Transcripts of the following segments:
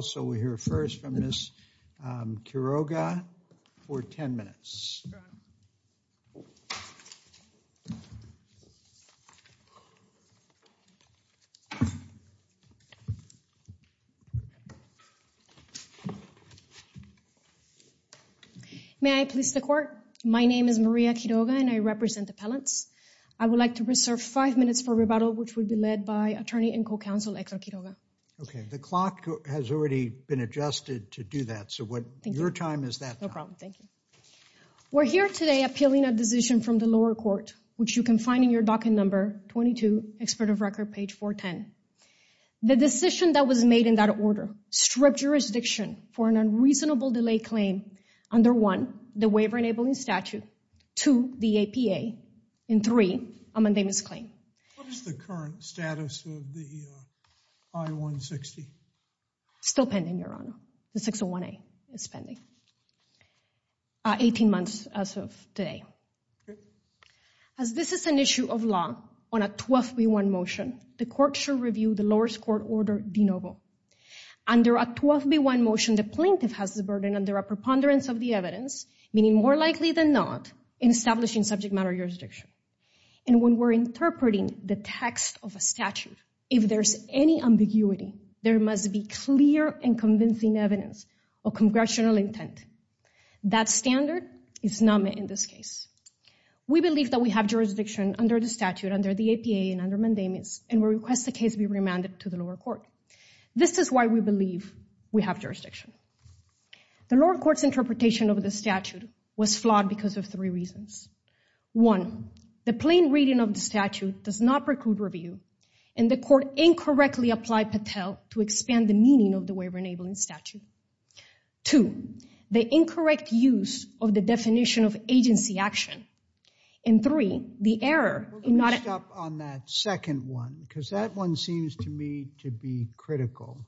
So we hear first from Ms. Quiroga for 10 minutes. May I please the court? My name is Maria Quiroga and I represent the appellants. I would like to reserve five minutes for rebuttal, which will be led by attorney and co-counsel Hector Quiroga. Okay, the clock has already been adjusted to do that. So what your time is that? No problem. Thank you. We're here today appealing a decision from the lower court, which you can find in your docket number 22, expert of record, page 410. The decision that was made in that order stripped jurisdiction for an unreasonable delay claim under one, the waiver enabling statute, two, the APA, and three, a mundane misclaim. What is the current status of the I-160? Still pending, Your Honor. The 601A is pending, 18 months as of today. As this is an issue of law on a 12B1 motion, the court should review the lowest court order de novo. Under a 12B1 motion, the plaintiff has the burden under a preponderance of the evidence, meaning more likely than not, in establishing subject matter jurisdiction. And when we're interpreting the text of a statute, if there's any ambiguity, there must be clear and convincing evidence of congressional intent. That standard is not met in this case. We believe that we have jurisdiction under the statute, under the APA, and under mundane misclaims, and we request the case be remanded to the lower court. This is why we believe we have jurisdiction. The lower court's interpretation of the statute was flawed because of three reasons. One, the plain reading of the statute does not preclude review, and the court incorrectly applied Patel to expand the meaning of the waiver-enabling statute. Two, the incorrect use of the definition of agency action. And three, the error in not— Let me stop on that second one, because that one seems to me to be critical.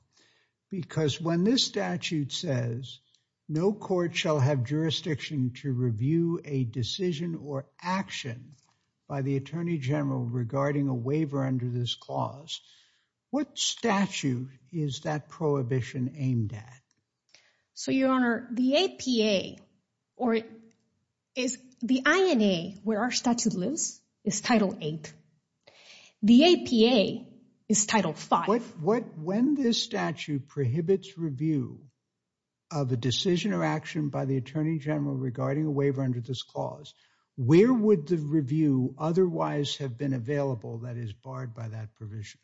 Because when this statute says, no court shall have jurisdiction to review a decision or action by the attorney general regarding a waiver under this clause, what statute is that prohibition aimed at? So Your Honor, the APA, or it is—the INA, where our statute lives, is Title VIII. The APA is Title V. When this statute prohibits review of a decision or action by the attorney general regarding a waiver under this clause, where would the review otherwise have been available that is barred by that provision?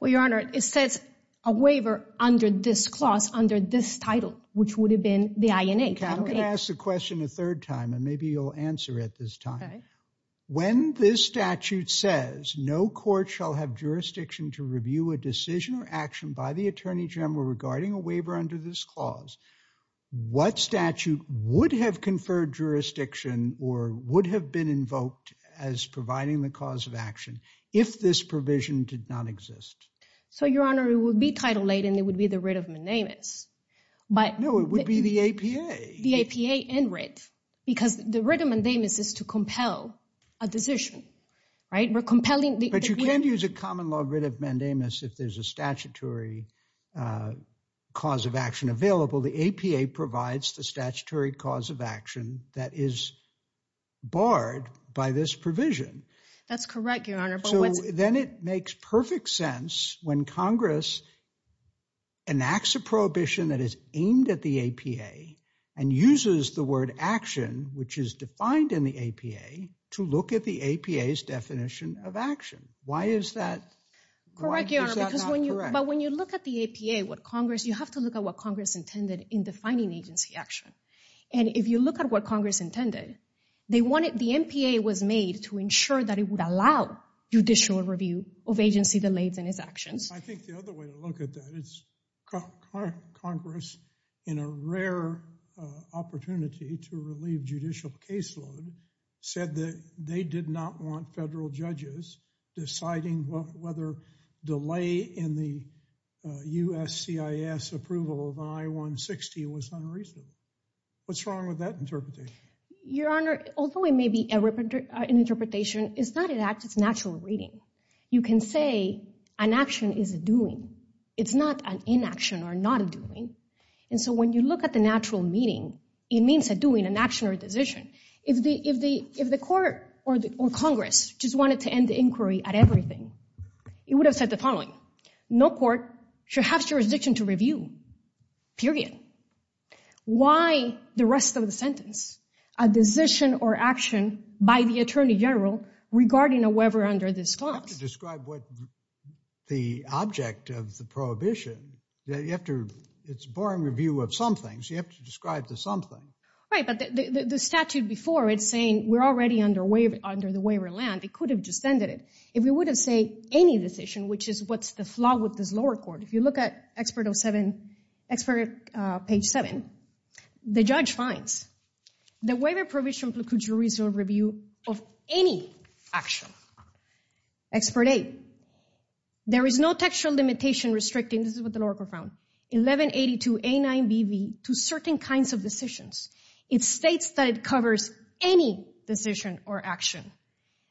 Well, Your Honor, it says a waiver under this clause, under this title, which would have been the INA. Okay, I'm going to ask the question a third time, and maybe you'll answer it this time. Okay. When this statute says, no court shall have jurisdiction to review a decision or action by the attorney general regarding a waiver under this clause, what statute would have conferred jurisdiction or would have been invoked as providing the cause of action if this provision did not exist? So Your Honor, it would be Title VIII, and it would be the writ of mandamus. But— No, it would be the APA. The APA and writ, because the writ of mandamus is to compel a decision, right? We're compelling— But you can't use a common law writ of mandamus if there's a statutory cause of action available. The APA provides the statutory cause of action that is barred by this provision. That's correct, Your Honor. But what's— It uses the word action, which is defined in the APA, to look at the APA's definition of action. Why is that— Correct, Your Honor. Why is that not correct? Because when you—but when you look at the APA, what Congress—you have to look at what Congress intended in defining agency action. And if you look at what Congress intended, they wanted—the MPA was made to ensure that it would allow judicial review of agency delays in its actions. I think the other way to look at that is Congress, in a rare opportunity to relieve judicial caseload, said that they did not want federal judges deciding whether delay in the USCIS approval of I-160 was unreasonable. What's wrong with that interpretation? Your Honor, although it may be an interpretation, it's not an act, it's natural reading. You can say an action is a doing. It's not an inaction or not a doing. And so when you look at the natural meaning, it means a doing, an action or a decision. If the—if the—if the court or Congress just wanted to end the inquiry at everything, it would have said the following, no court should have jurisdiction to review, period. Why the rest of the sentence, a decision or action by the Attorney General regarding a You have to describe what the object of the prohibition—you have to—it's a boring review of some things. You have to describe the something. Right, but the statute before it's saying we're already under the waiver of land. It could have just ended it. If we would have said any decision, which is what's the flaw with this lower court, if you look at expert of seven—expert page seven, the judge finds the waiver prohibition review of any action, expert eight, there is no textual limitation restricting—this is what the lower court found—1182A9BV to certain kinds of decisions. It states that it covers any decision or action.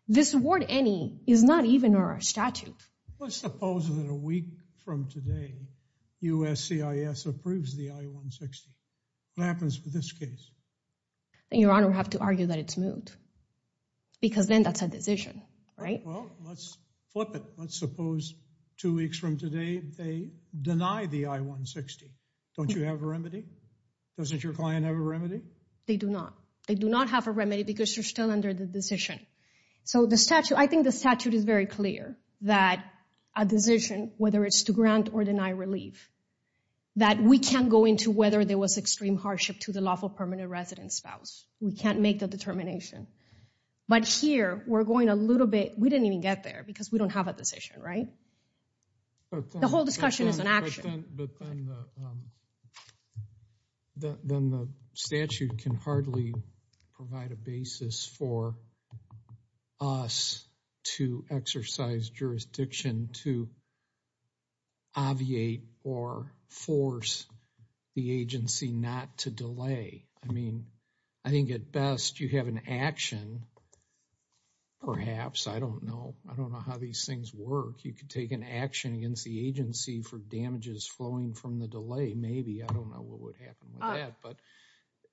This word any is not even in our statute. Let's suppose that a week from today USCIS approves the I-160. What happens with this case? Your Honor, I have to argue that it's moved because then that's a decision, right? Well, let's flip it. Let's suppose two weeks from today they deny the I-160. Don't you have a remedy? Doesn't your client have a remedy? They do not. They do not have a remedy because you're still under the decision. So the statute, I think the statute is very clear that a decision, whether it's to grant or deny relief, that we can't go into whether there was extreme hardship to the lawful permanent resident spouse. We can't make the determination. But here we're going a little bit—we didn't even get there because we don't have a decision, right? The whole discussion is an action. But then the statute can hardly provide a basis for us to exercise jurisdiction to obviate or force the agency not to delay. I mean, I think at best you have an action. Perhaps. I don't know. I don't know how these things work. You could take an action against the agency for damages flowing from the delay. Maybe. I don't know what would happen with that. But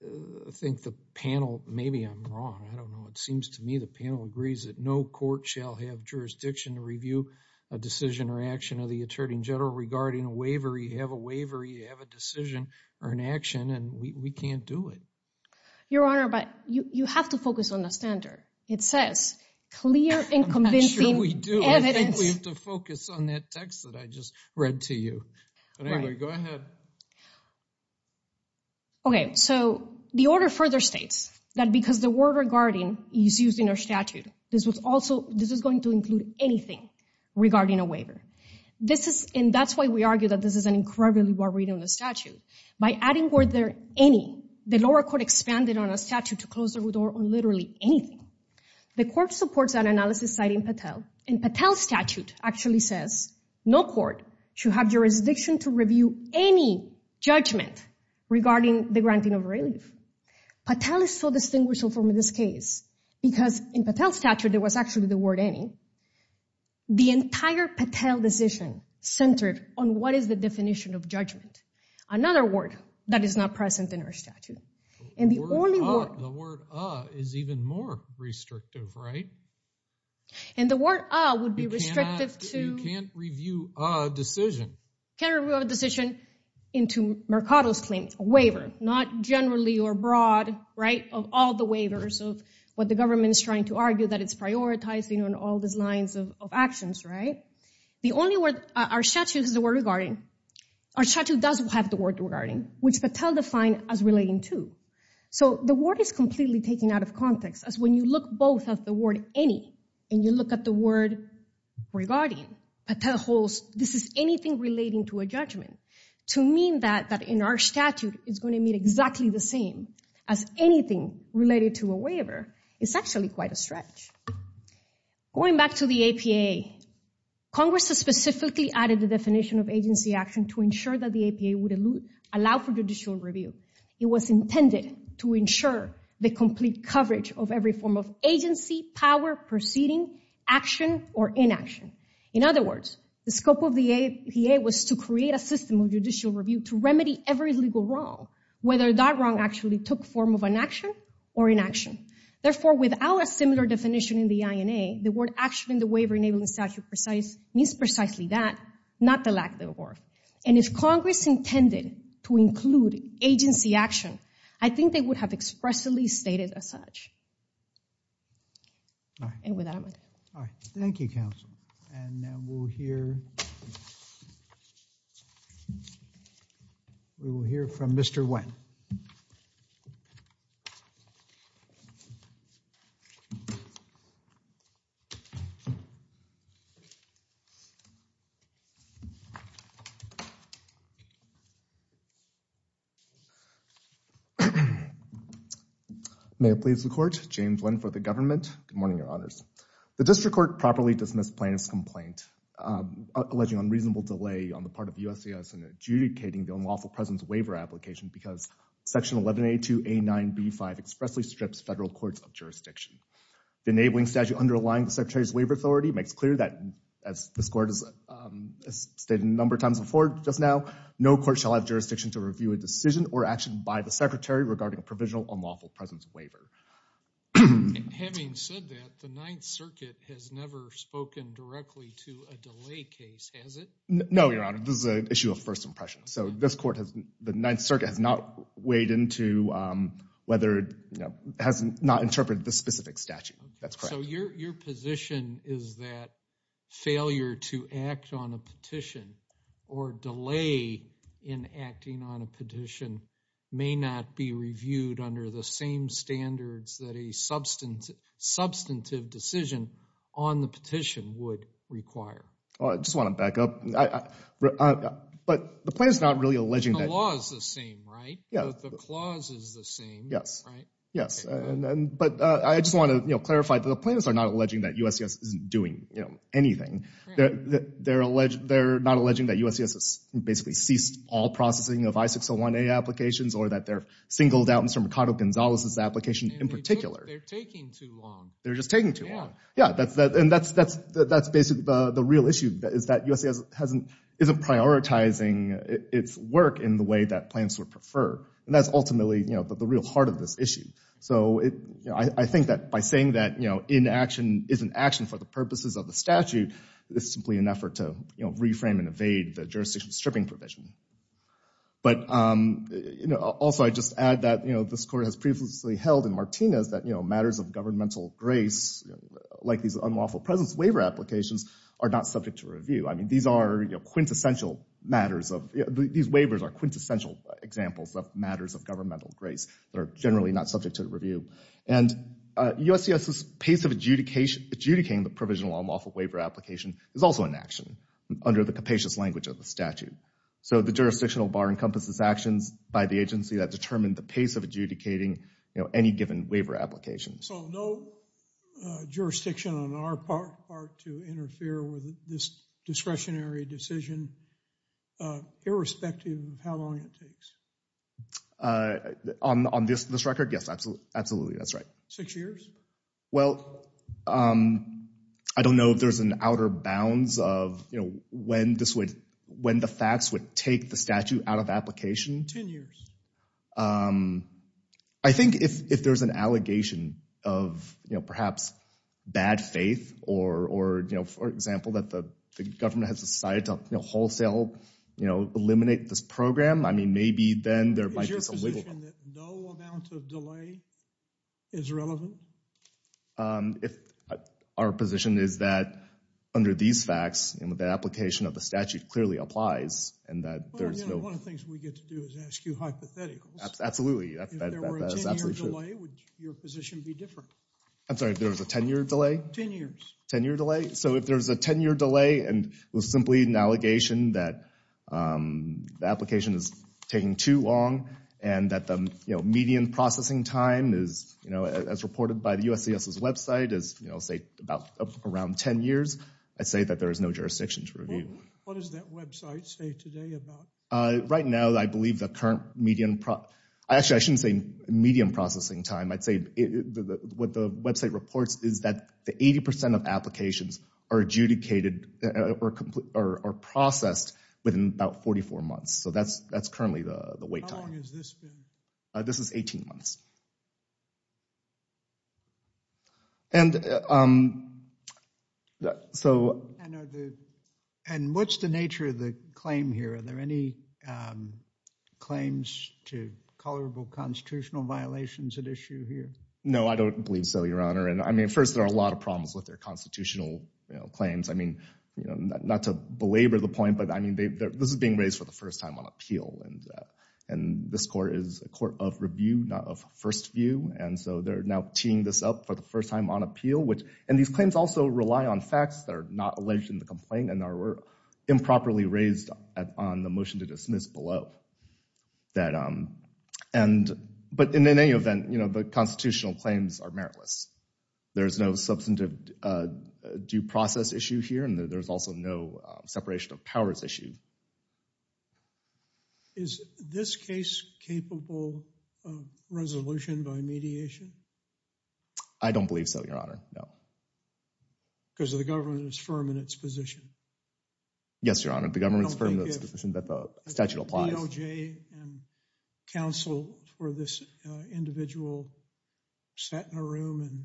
I think the panel—maybe I'm wrong. I don't know. It seems to me the panel agrees that no court shall have jurisdiction to review a decision or action of the attorney general regarding a waiver. You have a waiver. You have a decision or an action. And we can't do it. Your Honor, but you have to focus on the standard. It says clear and convincing evidence— I'm not sure we do. I think we have to focus on that text that I just read to you. But anyway, go ahead. Okay. So the order further states that because the word regarding is used in our statute, this is going to include anything regarding a waiver. And that's why we argue that this is an incredibly broad reading of the statute. By adding the word there, any, the lower court expanded on a statute to close the root or literally anything. The court supports that analysis, citing Patel. And Patel's statute actually says no court should have jurisdiction to review any judgment regarding the granting of relief. Patel is so distinguishable from this case because in Patel's statute, there was actually the word any. The entire Patel decision centered on what is the definition of judgment, another word that is not present in our statute. And the only word— The word a is even more restrictive, right? And the word a would be restrictive to— You can't review a decision. You can't review a decision into Mercado's claim, a waiver. Not generally or broad, right, of all the waivers of what the government is trying to all these lines of actions, right? The only word— Our statute is the word regarding. Our statute doesn't have the word regarding, which Patel defined as relating to. So the word is completely taken out of context as when you look both at the word any and you look at the word regarding, Patel holds this is anything relating to a judgment. To mean that in our statute, it's going to mean exactly the same as anything related to a waiver is actually quite a stretch. Going back to the APA, Congress has specifically added the definition of agency action to ensure that the APA would allow for judicial review. It was intended to ensure the complete coverage of every form of agency, power, proceeding, action, or inaction. In other words, the scope of the APA was to create a system of judicial review to remedy every legal wrong, whether that wrong actually took form of an action or inaction. Therefore, without a similar definition in the INA, the word action in the Waiver Enabling Statute means precisely that, not the lack thereof. And if Congress intended to include agency action, I think they would have expressly stated as such. Thank you, counsel. And now we'll hear from Mr. Nguyen. May it please the court. James Nguyen for the government. Good morning, your honors. The district court properly dismissed plaintiff's complaint alleging unreasonable delay on the part of USCIS in adjudicating the unlawful president's waiver application because section 1182A9B5 expressly strips federal courts of jurisdiction. The enabling statute underlying the secretary's waiver authority makes clear that, as this court has stated a number of times before just now, no court shall have jurisdiction to review a decision or action by the secretary regarding a provisional unlawful president's waiver. Having said that, the Ninth Circuit has never spoken directly to a delay case, has it? No, your honor. This is an issue of first impression. So this court has, the Ninth Circuit has not weighed into whether, you know, has not interpreted the specific statute. That's correct. So your position is that failure to act on a petition or delay in acting on a petition may not be reviewed under the same standards that a substantive decision on the petition would require. Well, I just want to back up. But the plaintiff's not really alleging that. The law is the same, right? Yeah. The clause is the same, right? Yes. But I just want to, you know, clarify that the plaintiffs are not alleging that USCIS isn't doing, you know, anything. They're not alleging that USCIS has basically ceased all processing of I-601A applications or that they're singled out from Ricardo Gonzalez's application in particular. They're taking too long. They're just taking too long. Yeah, and that's basically the real issue is that USCIS isn't prioritizing its work in the way that plaintiffs would prefer. And that's ultimately, you know, the real heart of this issue. So I think that by saying that, you know, inaction isn't action for the purposes of the statute, it's simply an effort to, you know, reframe and evade the jurisdiction stripping provision. But, you know, also I'd just add that, you know, this court has previously held in like these unlawful presence waiver applications are not subject to review. I mean, these are quintessential matters of, these waivers are quintessential examples of matters of governmental grace that are generally not subject to review. And USCIS's pace of adjudicating the provisional unlawful waiver application is also inaction under the capacious language of the statute. So the jurisdictional bar encompasses actions by the agency that determine the pace of adjudicating, you know, any given waiver application. So no jurisdiction on our part to interfere with this discretionary decision irrespective of how long it takes? On this record, yes, absolutely. That's right. Six years? Well, I don't know if there's an outer bounds of, you know, when the facts would take the statute out of application. Ten years. I think if there's an allegation of, you know, perhaps bad faith or, you know, for example, that the government has decided to, you know, wholesale, you know, eliminate this program, I mean, maybe then there might be some wiggle room. Is your position that no amount of delay is relevant? If our position is that under these facts, you know, the application of the statute clearly applies and that there's no... I would ask you hypotheticals. Absolutely. If there were a 10-year delay, would your position be different? I'm sorry, if there was a 10-year delay? 10 years. 10-year delay. So if there's a 10-year delay and it was simply an allegation that the application is taking too long and that the, you know, median processing time is, you know, as reported by the USCIS's website is, you know, say about around 10 years, I'd say that there is no jurisdiction to review. What does that website say today about... Right now, I believe the current median... Actually, I shouldn't say median processing time. I'd say what the website reports is that the 80% of applications are adjudicated or processed within about 44 months. So that's currently the wait time. How long has this been? This is 18 months. And what's the nature of the claim here? Are there any claims to colorable constitutional violations at issue here? No, I don't believe so, Your Honor. And I mean, first, there are a lot of problems with their constitutional claims. I mean, you know, not to belabor the point, but I mean, this is being raised for the first time on appeal. And this court is a court of review, not of first view. And so they're now teeing this up for the first time on appeal, which... And these claims also rely on facts that are not alleged in the complaint and are improperly on the motion to dismiss below. But in any event, you know, the constitutional claims are meritless. There's no substantive due process issue here, and there's also no separation of powers issue. Is this case capable of resolution by mediation? I don't believe so, Your Honor, no. Because the government is firm in its position? Yes, Your Honor. The government is firm in its position that the statute applies. I don't think if DOJ and counsel for this individual sat in a room and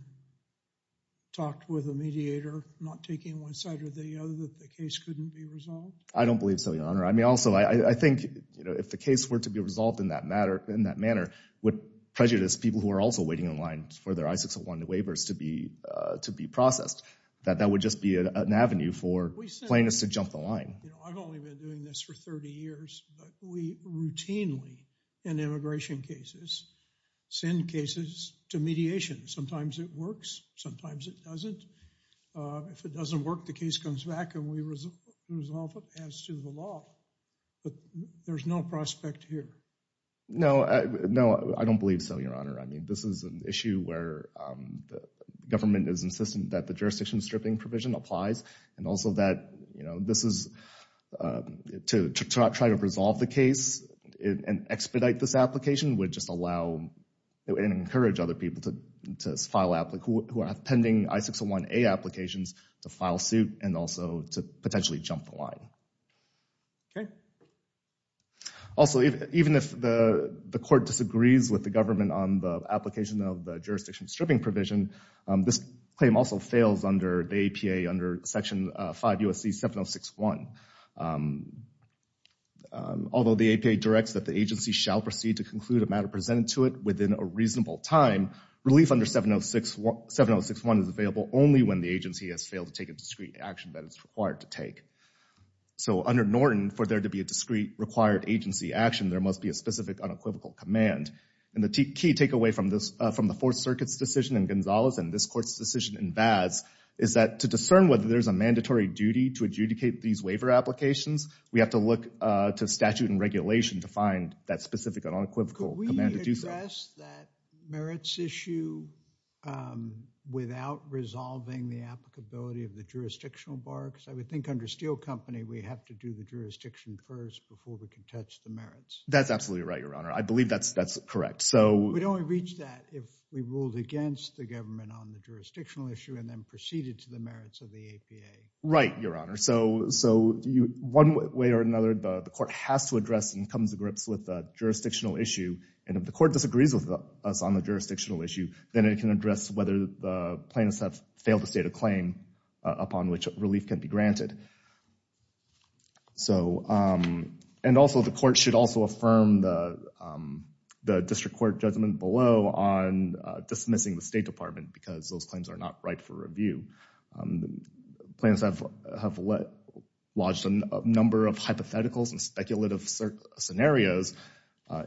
talked with a mediator, not taking one side or the other, that the case couldn't be resolved? I don't believe so, Your Honor. I mean, also, I think, you know, if the case were to be resolved in that manner, would prejudice people who are also waiting in line for their I-601 waivers to be processed, that that would just be an avenue for plaintiffs to jump the line. I've only been doing this for 30 years, but we routinely, in immigration cases, send cases to mediation. Sometimes it works, sometimes it doesn't. If it doesn't work, the case comes back and we resolve it as to the law. But there's no prospect here. No, no, I don't believe so, Your Honor. I mean, this is an issue where the government is insistent that the jurisdiction stripping provision applies and also that, you know, this is to try to resolve the case and expedite this application would just allow and encourage other people who are pending I-601A applications to file suit and also to potentially jump the line. Okay. Also, even if the court disagrees with the government on the application of the jurisdiction stripping provision, this claim also fails under the APA, under Section 5 U.S.C. 706.1. Although the APA directs that the agency shall proceed to conclude a matter presented to it within a reasonable time, relief under 706.1 is available only when the agency has failed to take a discrete action that it's required to take. So under Norton, for there to be a discrete required agency action, there must be a specific unequivocal command. And the key takeaway from the Fourth Circuit's decision in Gonzalez and this court's decision in Vaz is that to discern whether there's a mandatory duty to adjudicate these waiver applications, we have to look to statute and regulation to find that specific unequivocal command to do so. Could we address that merits issue without resolving the applicability of the jurisdictional bar? Because I would think under Steel Company, we have to do the jurisdiction first before we can touch the merits. That's absolutely right, Your Honor. I believe that's correct. We'd only reach that if we ruled against the government on the jurisdictional issue and then proceeded to the merits of the APA. Right, Your Honor. So one way or another, the court has to address and comes to grips with the jurisdictional issue. And if the court disagrees with us on the jurisdictional issue, then it can address whether the plaintiffs have failed to state a claim upon which relief can be granted. So, and also the court should also affirm the district court judgment below on dismissing the State Department because those claims are not ripe for review. Plaintiffs have lodged a number of hypotheticals and speculative scenarios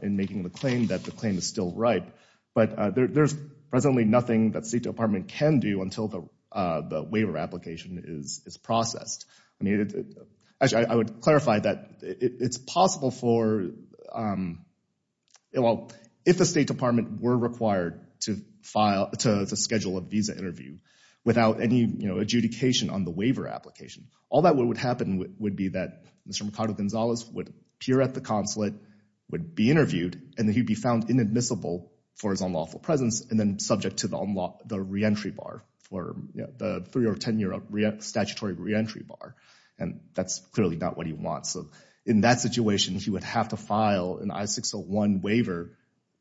in making the claim that the claim is still ripe. But there's presently nothing that State Department can do until the waiver application is processed. I mean, actually, I would clarify that it's possible for, well, if the State Department were required to schedule a visa interview without any adjudication on the waiver application, all that would happen would be that Mr. Ricardo Gonzalez would appear at the consulate, would be interviewed, and then he'd be found inadmissible for his unlawful presence and then subject to the reentry bar, the three or 10-year statutory reentry bar. And that's clearly not what he wants. So in that situation, he would have to file an I-601 waiver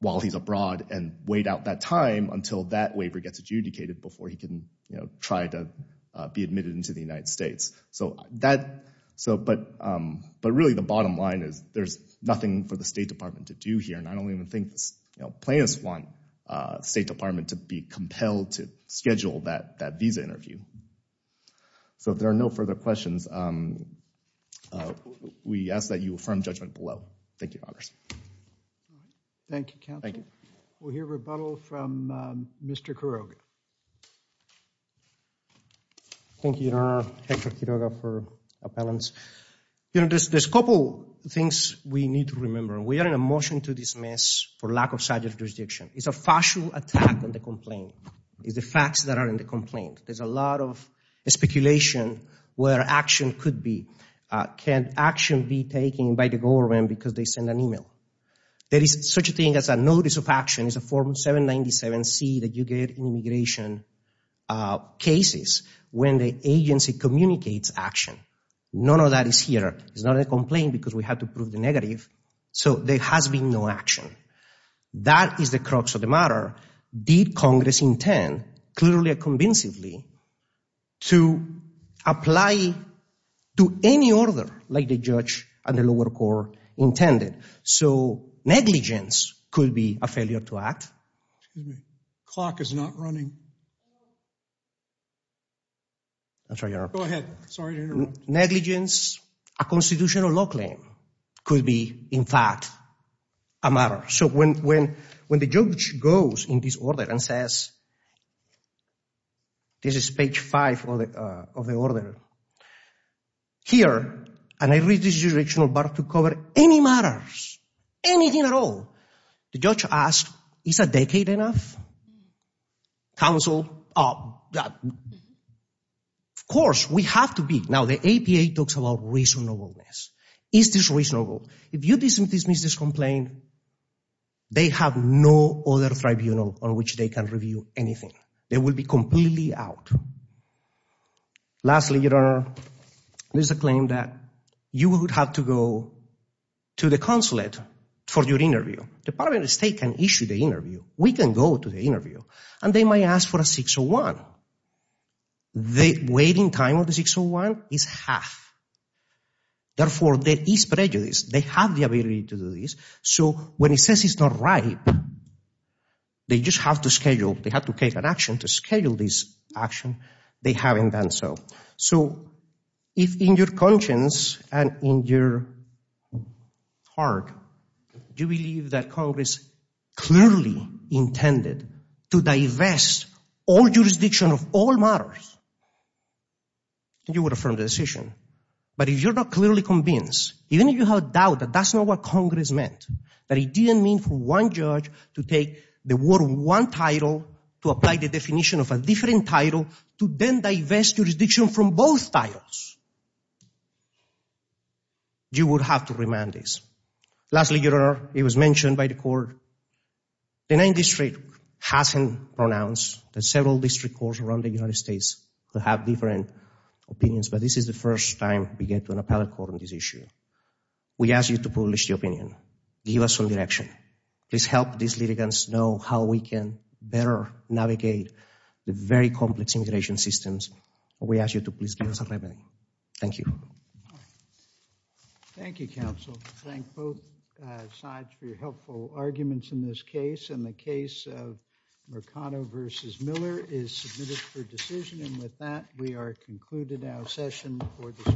while he's abroad and wait out that time until that waiver gets adjudicated before he can try to be admitted into the United States. So that, but really the bottom line is there's nothing for the State Department to do here. I don't even think plaintiffs want the State Department to be compelled to schedule that visa interview. So if there are no further questions, we ask that you affirm judgment below. Thank you, Your Honors. Thank you, Counselor. We'll hear rebuttal from Mr. Quiroga. Thank you, Your Honor. Hector Quiroga for appellants. You know, there's a couple things we need to remember. We are in a motion to dismiss for lack of statute of jurisdiction. It's a factual attack on the complaint. It's the facts that are in the complaint. There's a lot of speculation where action could be. Can action be taken by the government because they send an email? There is such a thing as a notice of action. It's a Form 797C that you get in immigration cases when the agency communicates action. None of that is here. It's not a complaint because we have to prove the negative. So there has been no action. That is the crux of the matter. Did Congress intend, clearly and convincingly, to apply to any order like the judge and the lower court intended? So negligence could be a failure to act. Excuse me. Clock is not running. I'm sorry, Your Honor. Go ahead. Sorry to interrupt. Negligence, a constitutional law claim, could be, in fact, a matter. So when the judge goes in this order and says, this is page 5 of the order, here, and I read this jurisdictional bar to cover any matters, anything at all, the judge asks, is a decade enough? Counsel, of course, we have to be. Now, the APA talks about reasonableness. Is this reasonable? If you dismiss this complaint, they have no other tribunal on which they can review anything. They will be completely out. Lastly, Your Honor, there's a claim that you would have to go to the consulate for your interview. Department of State can issue the interview. We can go to the interview. And they might ask for a 601. The waiting time of the 601 is half. Therefore, there is prejudice. They have the ability to do this. So when it says it's not right, they just have to schedule. They have to take an action to schedule this action. They haven't done so. So if in your conscience and in your heart, you believe that Congress clearly intended to divest all jurisdiction of all matters, you would affirm the decision. But if you're not clearly convinced, even if you have doubt that that's not what Congress meant, that it didn't mean for one judge to take the word one title to apply the definition of a different title to then divest jurisdiction from both titles, you would have to remand this. Lastly, Your Honor, it was mentioned by the court. The Ninth District hasn't pronounced the several district courts around the United States that have different opinions. But this is the first time we get to an appellate court on this issue. We ask you to publish your opinion. Give us some direction. Please help these litigants know how we can better navigate the very complex immigration systems. We ask you to please give us a remedy. Thank you. Thank you, counsel. Thank both sides for your helpful arguments in this case. And the case of Mercado v. Miller is submitted for decision. And with that, we are concluded our session for this morning.